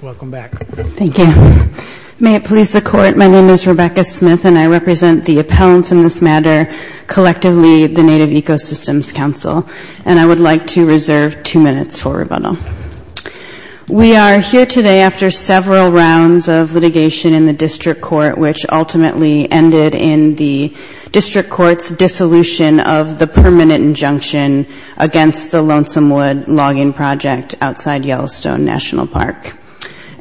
Welcome back. Thank you. May it please the Court, my name is Rebecca Smith and I represent the appellants in this matter, collectively the Native Ecosystems Council, and I would like to reserve two minutes for rebuttal. We are here today after several rounds of litigation in the District Court, which ultimately ended in the District Court's dissolution of the permanent injunction against the Lonesome Wood Logging Project outside Yellowstone National Park.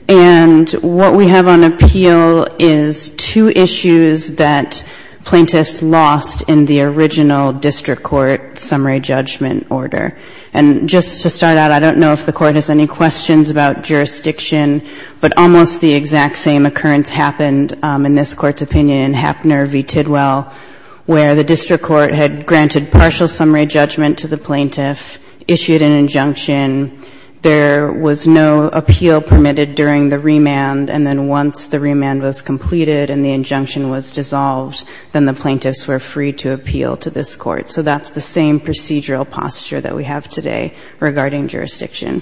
And what we have on appeal is two issues that plaintiffs lost in the original District Court summary judgment order. And just to start out, I don't know if the Court has any questions about jurisdiction, but almost the exact same occurrence happened in this Court's opinion in Hapner v. Tidwell, where the District Court had granted partial summary judgment to the plaintiff, issued an injunction, there was no appeal permitted during the remand, and then once the remand was completed and the injunction was dissolved, then the plaintiffs were free to appeal to this Court. So that's the same procedural posture that we have today regarding jurisdiction.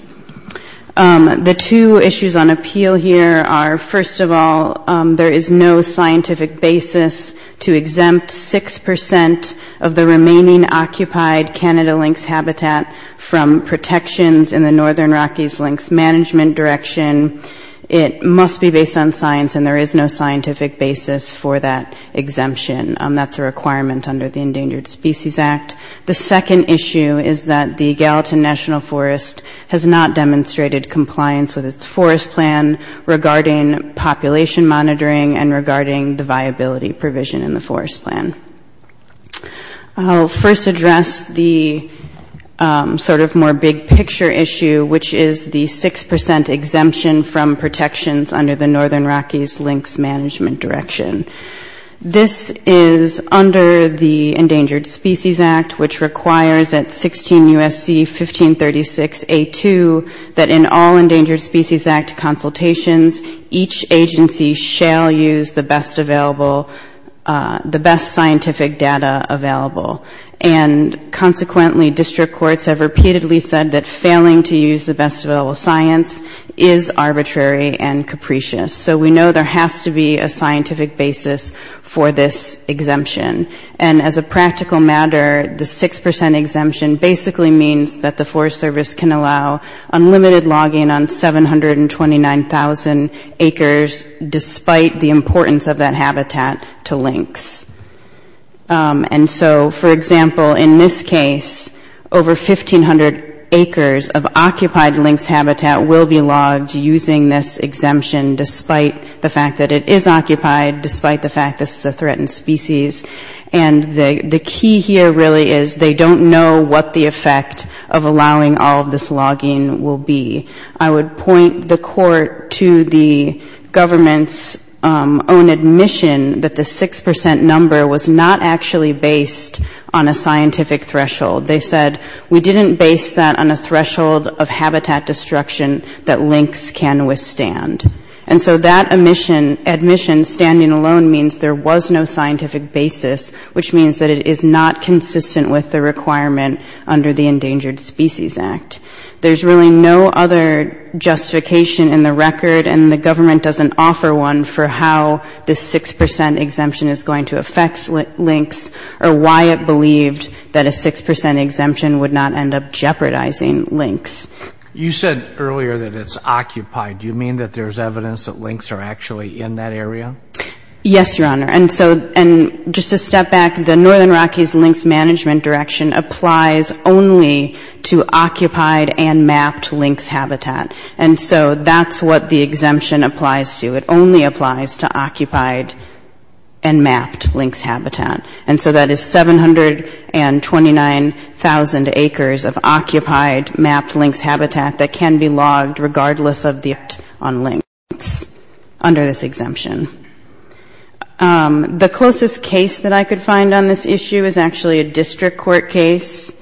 The two issues on appeal here are, first of all, there is no scientific basis to exempt 6% of the remaining occupied Canada lynx habitat from protections in the Northern Rockies Lynx Management Direction. It must be based on science, and there is no scientific basis for that exemption. That's a requirement under the Endangered Species Act. The second issue is that the Gallatin National Forest has not demonstrated compliance with its forest plan regarding population monitoring and regarding the viability provision in the plan. I'll first address the sort of more big-picture issue, which is the 6% exemption from protections under the Northern Rockies Lynx Management Direction. This is under the Endangered Species Act, which requires that 16 U.S.C. 1536a2, that in all Endangered Species Act consultations, each agency shall use the best available, the best scientific data available. And consequently, district courts have repeatedly said that failing to use the best available science is arbitrary and capricious. So we know there has to be a scientific basis for this exemption. And as a practical matter, the 6% exemption basically means that the Forest Service can allow unlimited logging on 729,000 acres, despite the importance of that habitat to lynx. And so, for example, in this case, over 1,500 acres of occupied lynx habitat will be logged using this exemption, despite the fact that it is occupied, despite the fact this is a threatened species. And the key here really is they don't know what the effect of allowing all of this logging will be. I would point the court to the government's own admission that the 6% number was not actually based on a scientific threshold. They said, we didn't base that on a threshold of habitat destruction that lynx can withstand. And so that admission, standing alone, means there was no scientific basis, which means that it is not consistent with the requirement under the Endangered Species Act. There's really no other justification in the record, and the government doesn't offer one, for how this 6% exemption is going to affect lynx or why it believed that a 6% exemption would not end up jeopardizing lynx. You said earlier that it's occupied. Do you mean that there's evidence that lynx are actually in that area? Yes, Your Honor. And so, just to step back, the Northern Rockies Lynx Management Direction applies only to occupied and mapped lynx habitat. And so that's what the exemption applies to. It only applies to occupied and mapped lynx habitat. And so that is 729,000 acres of occupied lynx habitat. The closest case that I could find on this issue is actually a district court case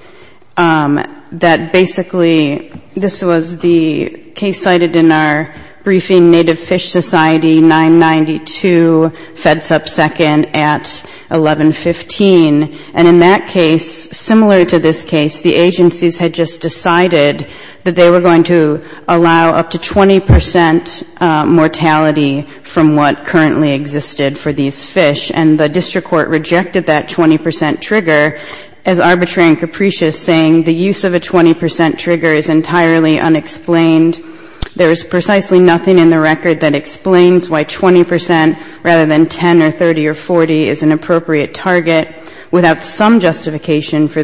that basically, this was the case cited in our briefing, Native Fish Society, 992 Feds Up Second at 1115. And in that case, similar to this case, the agencies had just decided that they were going to allow up to 20% mortality from what currently existed for these fish. And the district court rejected that 20% trigger as arbitrary and capricious, saying the use of a 20% trigger is entirely unexplained. There is precisely nothing in the record that explains why 20%, rather than 10 or 30 or 40, is an appropriate target. Without some time, the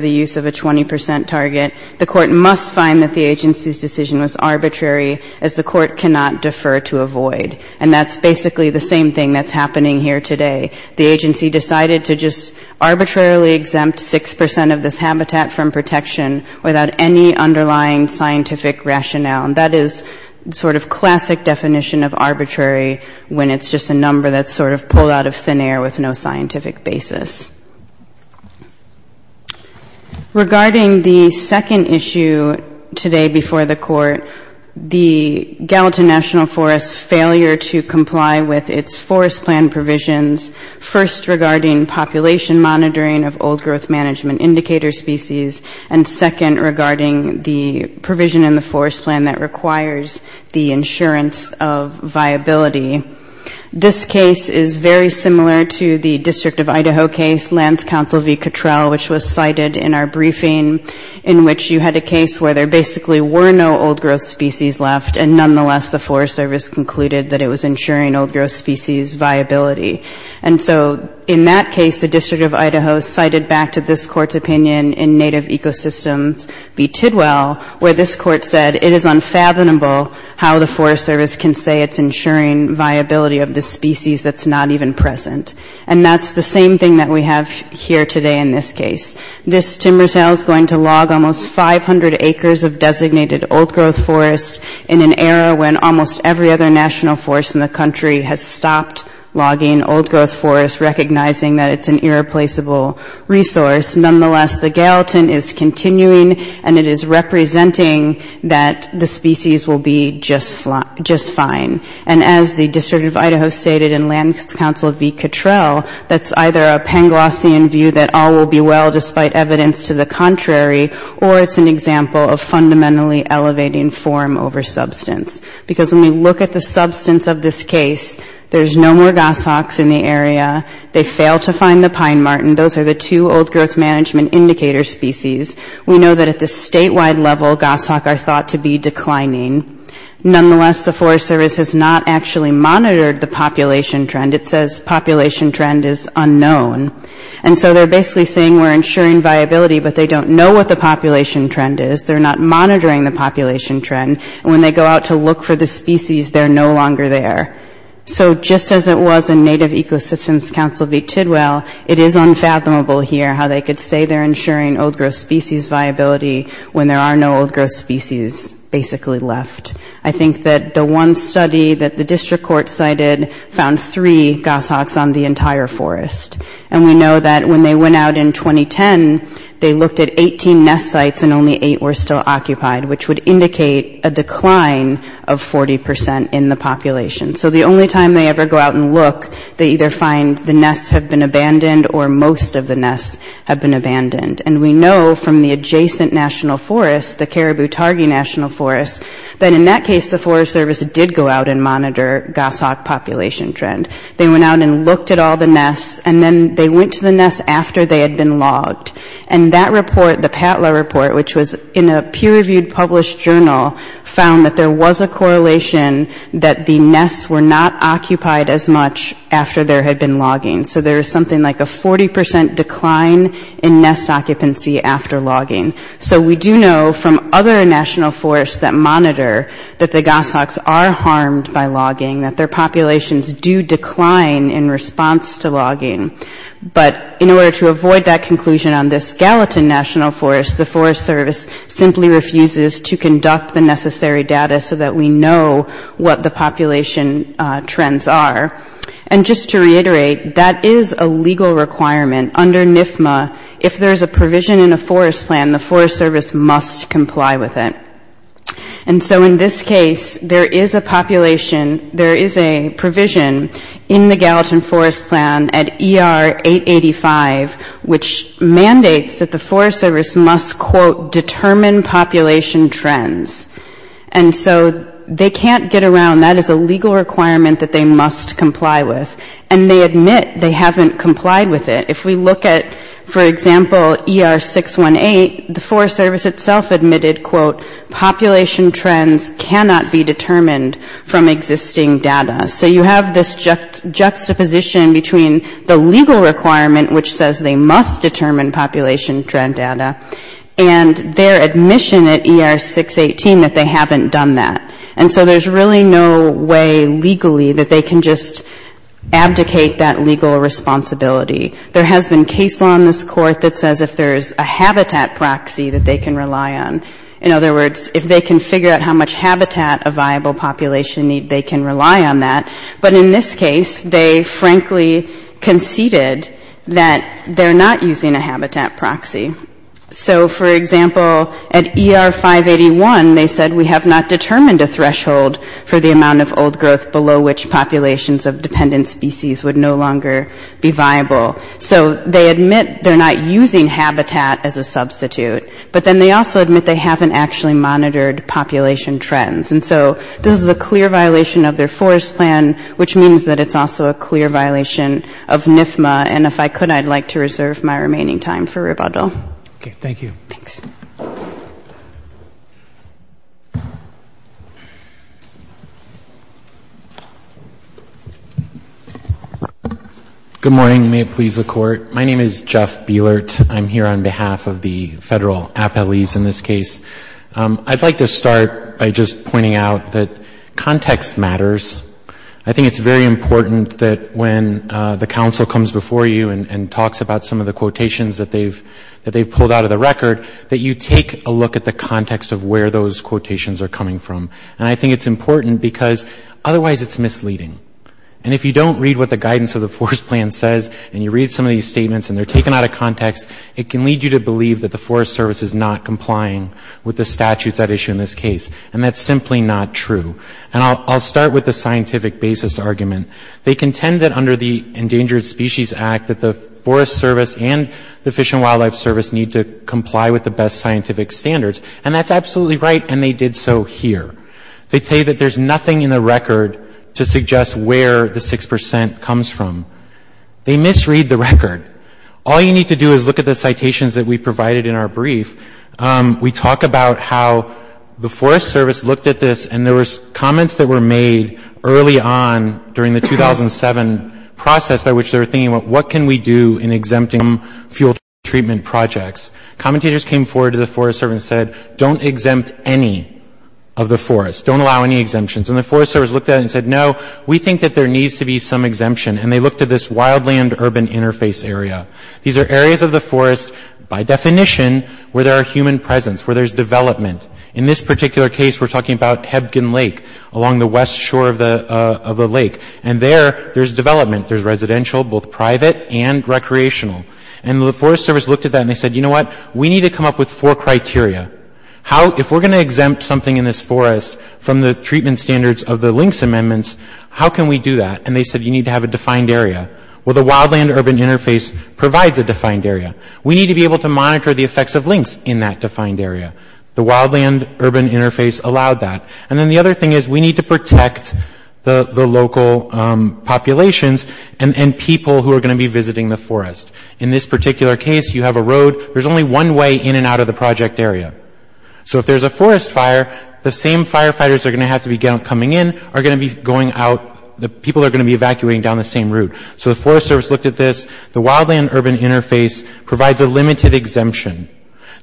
agency's decision was arbitrary, as the court cannot defer to avoid. And that's basically the same thing that's happening here today. The agency decided to just arbitrarily exempt 6% of this habitat from protection without any underlying scientific rationale. That is sort of classic definition of arbitrary, when it's just a number that's sort of pulled out of thin air with no scientific basis. Regarding the second issue today before the court, the Gallatin National Forest's failure to comply with its forest plan provisions, first regarding population monitoring of old growth management indicator species, and second regarding the provision in the forest plan that requires the insurance of viability. This case is very similar to the District of Idaho case, Lands Council v. Cottrell, which was cited in our briefing, in which you had a case where there basically were no old growth species left, and nonetheless the Forest Service concluded that it was ensuring old growth species viability. And so in that case the District of Idaho cited back to this court's opinion in Native Ecosystems v. Tidwell, where this court said it is unfathomable how the Forest Service can say it's ensuring viability of this species that's not even present. And that's the same thing that we have here today in this case. This timber cell is going to log almost 500 acres of designated old growth forest in an era when almost every other national forest in the country has stopped logging old growth forest, recognizing that it's an irreplaceable resource. Nonetheless, the Gallatin is continuing, and it is representing that the species will be just fine. And as the District of Idaho stated in Lands Council v. Cottrell, that's either a Panglossian view that all will be well despite evidence to the contrary, or it's an example of fundamentally elevating form over substance. Because when we look at the substance of this case, there's no more goshawks in the area. They failed to find the pine martin. Those are the two old growth management indicator species. We know that at the statewide level goshawk are thought to be declining. Nonetheless, the Forest Service has not actually monitored the population trend. It says population trend is unknown. And so they're basically saying we're ensuring viability, but they don't know what the population trend is. They're not monitoring the population trend. And when they go out to look for the species, they're no longer there. So just as it was in Native Ecosystems Council v. Tidwell, it is unfathomable here how they could say they're ensuring old growth species viability when there are no old growth species basically left. I think that the one study that the district court cited found three goshawks on the entire forest. And we know that when they went out in 2010, they looked at 18 nest sites and only eight were still occupied, which would indicate a decline of 40% in the population. So the only time they ever go out and look, they either find the nests have been abandoned or most of the nests have been abandoned. And we know from the adjacent national forest, the Caribou-Targi National Forest, that in that case the Forest Service did go out and monitor goshawk population trend. They went out and looked at all the nests, and then they went to the nests after they had been logged. And that report, the PATLA report, which was in a peer-reviewed published journal, found that there was a correlation that the nests were not occupied as much after there had been logging. So there is something like a 40% decline in nest occupancy after logging. So we do know from other national forests that monitor that the goshawks are harmed by logging, that their populations do decline in response to logging. But in order to avoid that conclusion on this skeleton national forest, the Forest Service simply refuses to conduct the necessary data so that we know what the population trends are. And just to reiterate, that is a legal requirement under NIFMA. If there is a provision in a forest plan, the Forest Service must comply with it. And so in this case, there is a population, there is a provision in the Gallatin Forest Plan at ER 885, which mandates that the Forest Service must quote, determine population trends. And so they can't get around, that is a legal requirement that they must comply with. And they admit they haven't complied with it. If we look at, for example, ER 618, the Forest Service itself admitted, quote, population trends cannot be determined from existing data. So you have this juxtaposition between the legal requirement, which says they must determine population trend data, and their admission at ER 618 that they haven't done that. And so there's really no way legally that they can just abdicate that legal responsibility. There has been case law in this court that says if there's a habitat proxy that they can rely on. In other words, if they can figure out how much habitat a viable population need, they can rely on that. But in this case, they frankly conceded that they're not using a habitat proxy. So for example, at ER 581, they said we have not determined a threshold for the amount of old growth below which populations of dependent species would no longer be viable. So they admit they're not using habitat as a substitute. But then they also admit they haven't actually monitored population trends. And so this is a clear violation of their forest plan, which means that it's also a clear violation of NFMA. And if I could, I'd like to reserve my remaining time for rebuttal. Okay. Thank you. Thanks. Good morning. May it please the Court. My name is Jeff Bielert. I'm here on behalf of the federal appellees in this case. I'd like to start by just pointing out that context matters. I think it's very important that when the counsel comes before you and talks about some of the quotations that they've pulled out of the record, that you take a look at the context of where those quotations are coming from. And I think it's important because otherwise it's misleading. And if you don't read what the guidance of the forest plan says and you read some of these statements and they're taken out of context, it can lead you to believe that the Forest Service is not complying with the statutes at issue in this case. And that's simply not true. And I'll start with the scientific basis argument. They contend that under the Endangered Species Act that the Forest Service and the Fish and Wildlife Service need to comply with the best scientific standards. And that's absolutely right and they did so here. They say that there's nothing in the record to suggest where the 6 percent comes from. They misread the record. All you need to do is look at the citations that we provided in our brief. We talk about how the Forest Service looked at this and there was comments that were made early on during the 2007 process by which they were thinking about what can we do in exempting some fuel treatment projects. Commentators came forward to the Forest Service and said don't exempt any of the forest. Don't allow any exemptions. And the Forest Service looked at it and said no, we think that there needs to be some exemption. And they looked at this wildland urban interface area. These are areas of the forest by definition where there are human presence, where there's development. In this particular case we're talking about the lake. And there, there's development. There's residential, both private and recreational. And the Forest Service looked at that and they said you know what, we need to come up with four criteria. How, if we're going to exempt something in this forest from the treatment standards of the links amendments, how can we do that? And they said you need to have a defined area. Well, the wildland urban interface provides a defined area. We need to be able to monitor the effects of links in that defined area. The wildland urban interface allowed that. And then the other thing is we need to protect the local populations and people who are going to be visiting the forest. In this particular case you have a road. There's only one way in and out of the project area. So if there's a forest fire, the same firefighters are going to have to be coming in, are going to be going out, the people are going to be evacuating down the same route. So the Forest Service looked at this. The wildland urban interface provides a limited exemption.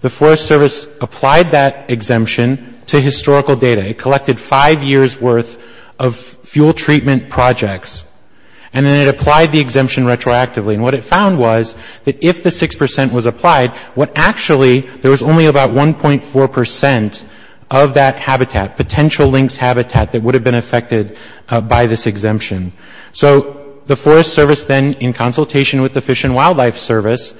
The Forest Service applied that exemption to historical data. It collected five years' worth of fuel treatment projects. And then it applied the exemption retroactively. And what it found was that if the 6 percent was applied, what actually there was only about 1.4 percent of that habitat, potential links habitat that would have been affected by this exemption. So the Forest Service then, in consultation with the Fish and Wildlife Service,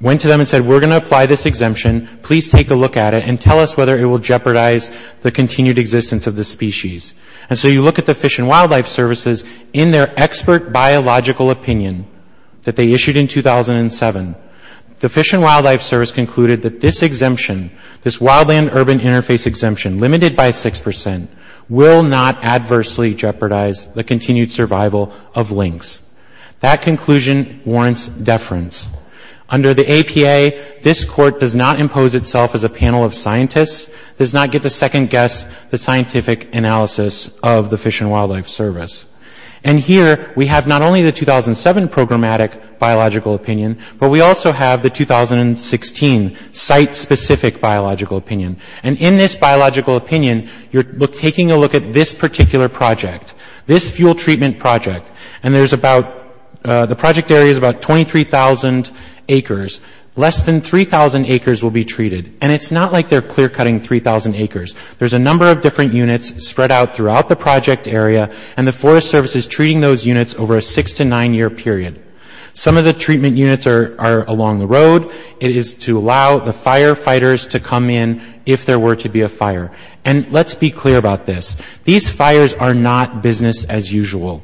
went to them and said we're going to apply this exemption. Please take a look at it and tell us whether it will jeopardize the continued existence of the species. And so you look at the Fish and Wildlife Services in their expert biological opinion that they issued in 2007. The Fish and Wildlife Service concluded that this exemption, this wildland urban interface exemption, limited by 6 percent, will not adversely jeopardize the continued survival of links. That conclusion warrants deference. Under the APA, this Court does not impose itself as a panel of scientists, does not get to second guess the scientific analysis of the Fish and Wildlife Service. And here we have not only the 2007 programmatic biological opinion, but we also have the 2016 site-specific biological opinion. And in this biological opinion, you're taking a look at this particular project, this fuel treatment project. And there's about, the project area is about 23,000 acres. Less than 3,000 acres will be treated. And it's not like they're clear-cutting 3,000 acres. There's a number of different units spread out throughout the project area, and the Forest Service is treating those units over a six- to nine-year period. Some of the treatment units are along the road. It is to allow the firefighters to come in if there were to be a fire. And let's be clear about this. These fires are not business as usual.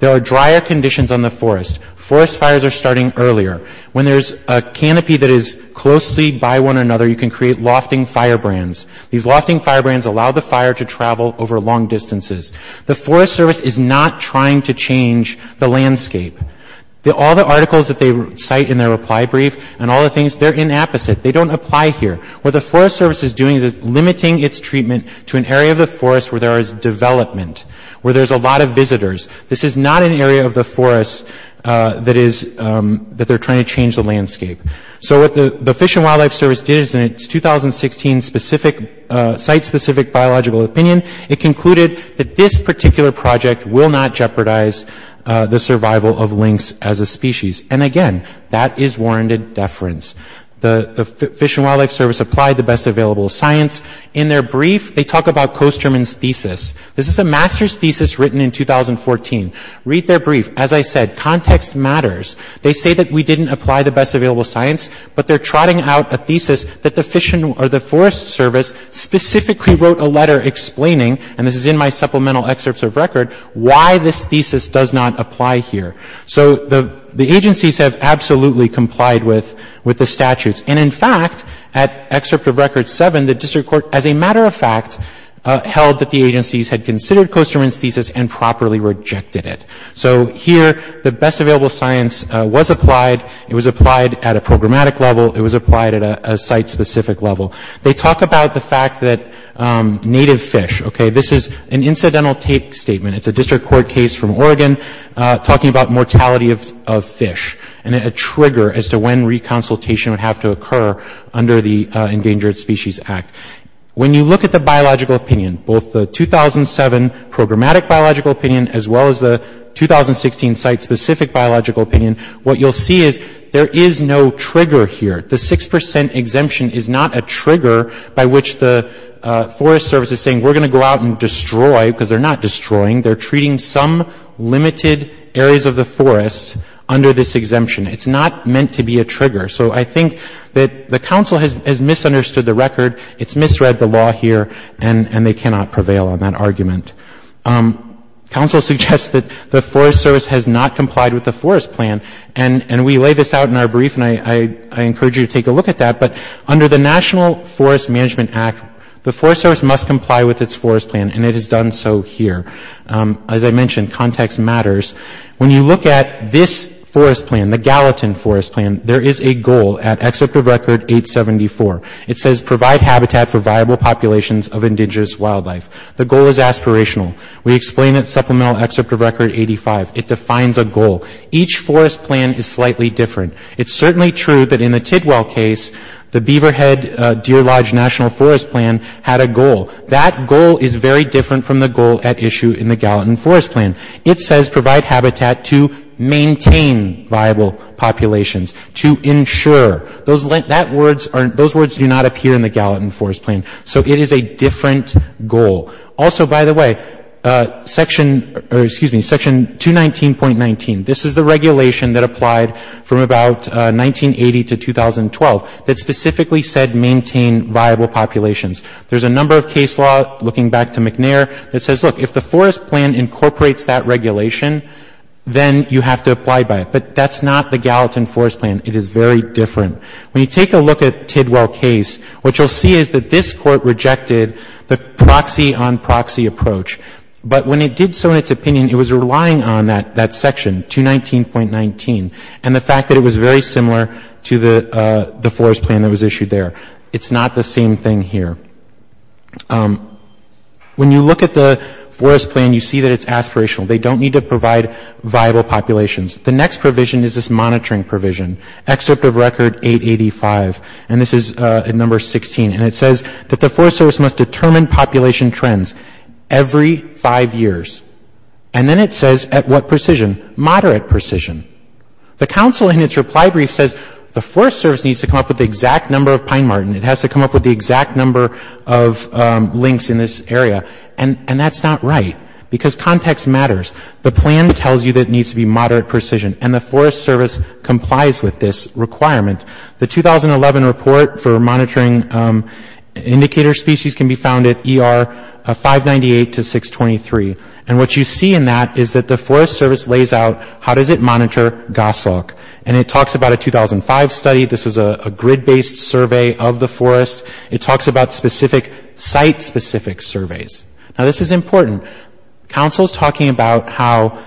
There are drier conditions on the forest. Forest fires are starting earlier. When there's a canopy that is closely by one another, you can create lofting firebrands. These lofting firebrands allow the fire to travel over long distances. The Forest Service is not trying to change the landscape. All the articles that they cite in their reply brief and all the things, they're inapposite. They don't apply here. What the Forest Service is doing is limiting its treatment to an area of the forest where there is development, where there's a lot of visitors. This is not an area of the forest that they're trying to change the landscape. So what the Fish and Wildlife Service did in its 2016 site-specific biological opinion, it concluded that this particular project will not jeopardize the survival of lynx as a species. And again, that is warranted deference. The Fish and Wildlife Service applied the best available science. In their brief, they talk about Kosterman's thesis. This is a master's thesis written in 2014. Read their brief. As I said, context matters. They say that we didn't apply the best available science, but they're trotting out a thesis that the Forest Service specifically wrote a letter explaining, and this is in my supplemental excerpts of record, why this thesis does not apply here. So the agencies have absolutely complied with the statutes. And, in fact, at excerpt of record 7, the district court, as a matter of fact, held that the agencies had considered Kosterman's thesis and properly rejected it. So here, the best available science was applied. It was applied at a programmatic level. It was applied at a site-specific level. They talk about the fact that native fish, okay, this is an incidental take statement. It's a district court case from Oregon talking about mortality of fish and a trigger as to when reconsultation would have to occur under the Endangered Species Act. When you look at the biological opinion, both the 2007 programmatic biological opinion as well as the 2016 site-specific biological opinion, what you'll see is there is no trigger here. The 6 percent exemption is not a trigger by which the Forest Service is saying we're going to go out and destroy, because they're not destroying. They're treating some limited areas of the forest under this exemption. It's not meant to be a trigger. So I think that the counsel has misunderstood the record. It's misread the law here, and they cannot prevail on that argument. Counsel suggests that the Forest Service has not complied with the forest plan, and we lay this out in our brief, and I encourage you to take a look at that. But under the National Forest Management Act, the Forest Service must comply with its forest plan, and it has done so here. As I mentioned, context matters. When you look at this forest plan, the Gallatin forest plan, there is a goal at Excerpt of Record 874. It says, provide habitat for viable populations of indigenous wildlife. The goal is aspirational. We explain it in Supplemental Excerpt of Record 85. It defines a goal. Each forest plan is slightly different. It's certainly true that in the Tidwell case, the Beaverhead Deer Lodge National Forest Plan had a goal. That goal is very different from the goal at issue in the Gallatin forest plan. It says, provide habitat to maintain viable populations, to ensure. Those words do not appear in the Gallatin forest plan. So it is a different goal. Also by the way, Section 219.19, this is the regulation that applied from about 1980 to 2012, that specifically said maintain viable populations. There is a number of case law, looking back to McNair, that says, look, if the forest plan incorporates that regulation, then you have to apply by it. But that's not the Gallatin forest plan. It is very different. When you take a look at Tidwell case, what you will see is that this Court rejected the proxy on proxy approach. But when it did so in its opinion, it was relying on that section, 219.19, and the fact that it was very similar to the forest plan that was issued there. It's not the same thing here. When you look at the forest plan, you see that it's aspirational. They don't need to provide viable populations. The next provision is this monitoring provision. Excerpt of record 885, and this is at number 16. And it says that the forest service must determine population trends every five years. And then it says at what precision? Moderate precision. The council in its reply brief says the forest service needs to come up with the exact number of pine martin. It has to come up with the exact number of links in this area. And that's not right. Because context matters. The plan tells you that it needs to be moderate precision. And the forest service complies with this requirement. The 2011 report for monitoring indicator species can be found at ER 598 to 623. And what you see in that is that the forest service lays out how does it monitor goshawk. And it talks about a 2005 study. This was a grid-based survey of the forest. It talks about specific site-specific surveys. Now, this is important. Council is talking about how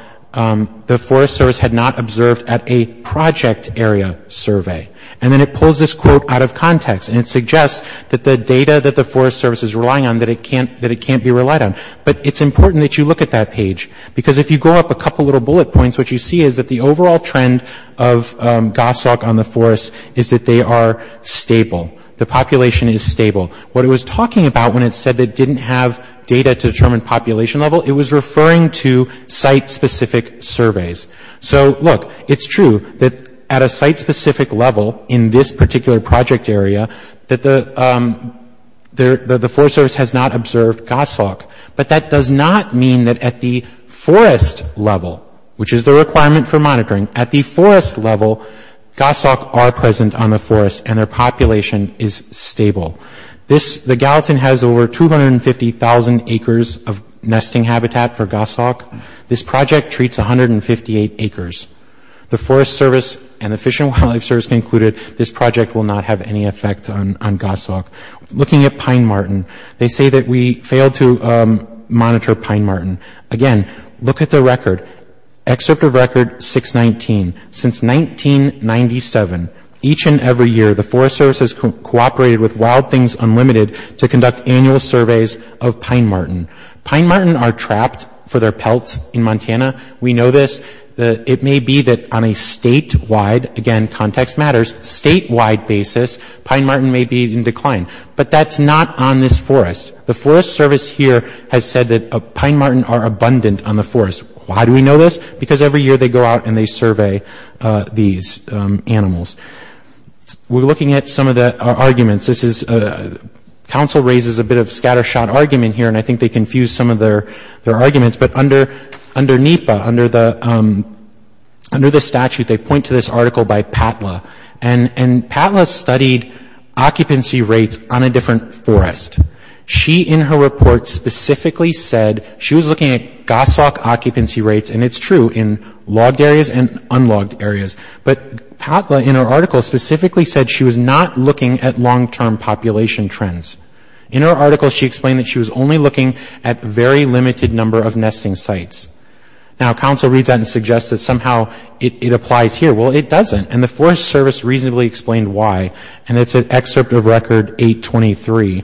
the forest service had not observed at a project area survey. And then it pulls this quote out of context. And it suggests that the data that the forest service is relying on that it can't be relied on. But it's important that you look at that page. Because if you go up a couple little bullet points, what you see is that the overall trend of goshawk on the forest is that they are stable. The population is stable. What it was talking about when it said it didn't have data to determine population level, it was referring to site-specific surveys. So look, it's true that at a site-specific level in this particular project area, that the forest service has not observed goshawk. But that does not mean that at the forest level, which is the requirement for monitoring, at the forest level goshawk are present on the forest and their population is stable. The Gallatin has over 250,000 acres of nesting habitat for goshawk. This project treats 158 acres. The forest service and the Fish and Wildlife Service concluded this project will not have any effect on goshawk. Looking at Pine Martin, they say that we failed to monitor Pine Martin. Again, look at the slide. Every year the forest service has cooperated with Wild Things Unlimited to conduct annual surveys of Pine Martin. Pine Martin are trapped for their pelts in Montana. We know this. It may be that on a statewide, again context matters, statewide basis, Pine Martin may be in decline. But that's not on this forest. The forest service here has said that Pine Martin are abundant on the forest. Why do we know this? Because every year they go out and they survey these animals. We're looking at some of the arguments. This is, council raises a bit of scatter shot argument here and I think they confused some of their arguments. But under NEPA, under the statute, they point to this article by Patla. And Patla studied occupancy rates on a different forest. She in her report specifically said, she was looking at goshawk occupancy rates, and it's true in logged areas and unlogged areas. But Patla in her article specifically said she was not looking at long term population trends. In her article she explained that she was only looking at very limited number of nesting sites. Now council reads that and suggests that somehow it applies here. Well, it doesn't. And the forest service reasonably explained why. And it's an excerpt of record 823.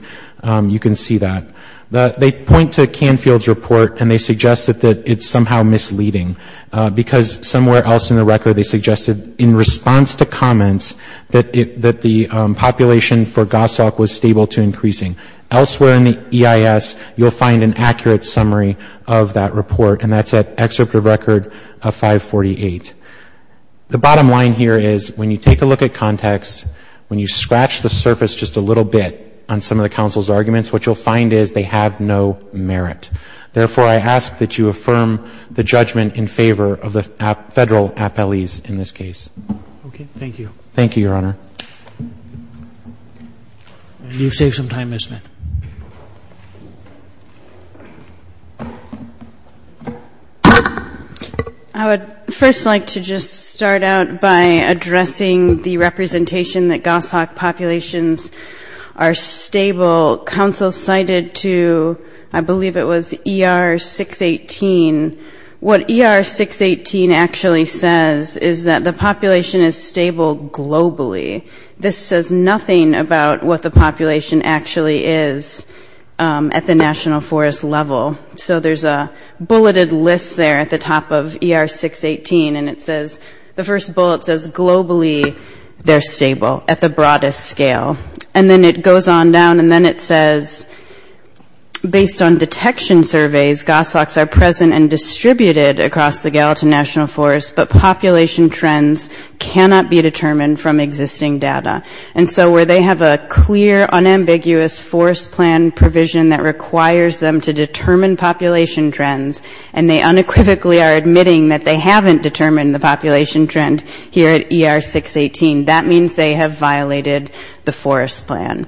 You can see that. They point to Canfield's report and they suggested that it's somehow misleading. Because somewhere else in the record they suggested in response to comments that the population for goshawk was stable to increasing. Elsewhere in the EIS you'll find an accurate summary of that report. And that's at excerpt of record 548. The bottom line here is when you take a look at context, when you scratch the surface just a little bit on some of the council's arguments, what you'll find is they have no merit. Therefore I ask that you affirm the judgment in favor of the federal appellees in this case. Okay. Thank you. Thank you, Your Honor. And you've saved some time, Ms. Smith. I would first like to just start out by addressing the representation that goshawk populations are stable. Council cited to, I believe it was ER 618. What ER 618 actually says is that the population is stable globally. This says nothing about what the population actually is at the national forest level. So there's a bulleted list there at the top of ER 618 and it says, the first bullet says globally they're stable at the broadest scale. And then it goes on down and then it says based on detection surveys goshawks are present and distributed across the Gallatin National Forest, but population trends cannot be determined from existing data. And so where they have a clear unambiguous forest plan provision that requires them to determine population trends and they unequivocally are admitting that they haven't determined the population trend here at ER 618, that means they have violated the forest plan.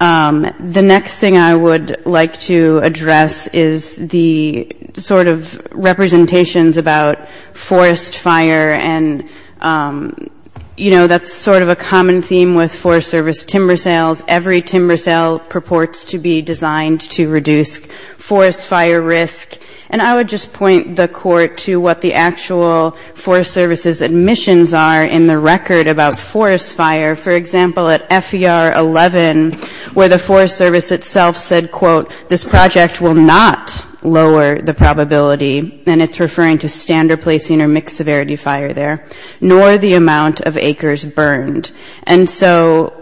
The next thing I would like to address is the sort of representations about forest fire and, you know, that's sort of a common theme with Forest Service timber sales. Every timber sale purports to be designed to reduce forest fire risk. And I would just point the Court to what the actual Forest Service's admissions are in the record about forest fire. For example, at FER 11 where the Forest Service itself said, quote, this project will not lower the probability, and it's referring to standard placing or mixed severity fire there, nor the amount of acres burned. And so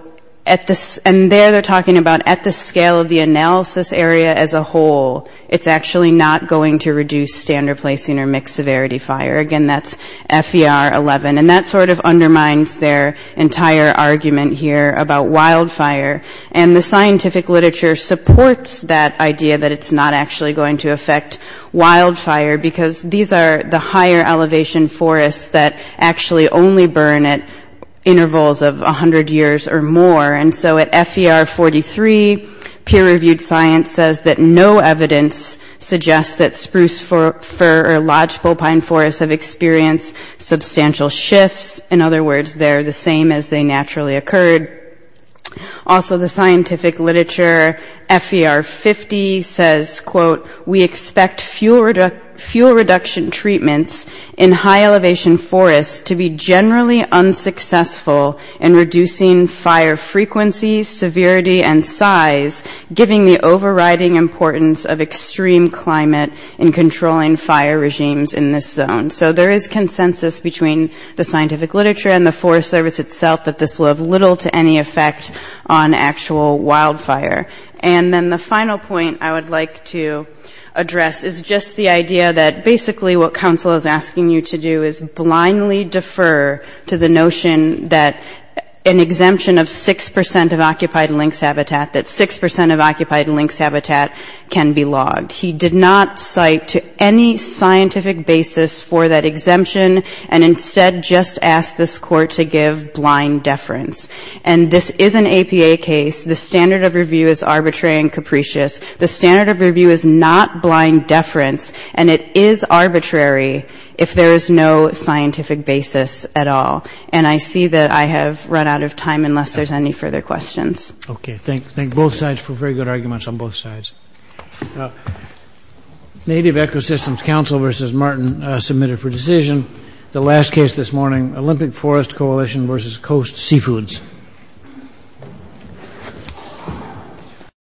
at the, and there they're talking about at the scale of the analysis area as a whole, it's actually not going to reduce standard placing or mixed severity fire. Again, that's FER 11. And that sort of undermines their entire argument here about wildfire. And the scientific literature supports that idea that it's not actually going to affect wildfire because these are the higher elevation forests that actually only burn at intervals of 100 years or more. And so at FER 43, peer-reviewed science says that no evidence suggests that spruce fir or lodgepole pine forests have experienced substantial shifts. In other words, they're the same as they naturally occurred. Also, the scientific literature, FER 50 says, quote, we expect fuel reduction treatments in high elevation forests to be generally unsuccessful in reducing fire frequency, severity, and size, giving the overriding importance of extreme climate in controlling fire regimes in this zone. So there is consensus between the scientific literature and the Forest Service itself that this will have little to any effect on actual wildfire. And then the final point I would like to address is just the idea that basically what counsel is asking you to do is blindly defer to the notion that an exemption of 6 percent of occupied lynx habitat, that 6 percent of occupied lynx habitat can be logged. He did not cite to any scientific basis for that exemption, and instead just asked this Court to give blind deference. And this is an APA case. The standard of review is arbitrary and capricious. The standard of review is not blind deference, and it is arbitrary if there is no scientific basis at all. And I see that I have run out of time, unless there's any further questions. Okay, thank both sides for very good arguments on both sides. Native Ecosystems Council versus Martin submitted for decision the last case this morning, Olympic Forest Coalition versus Coast Seafoods.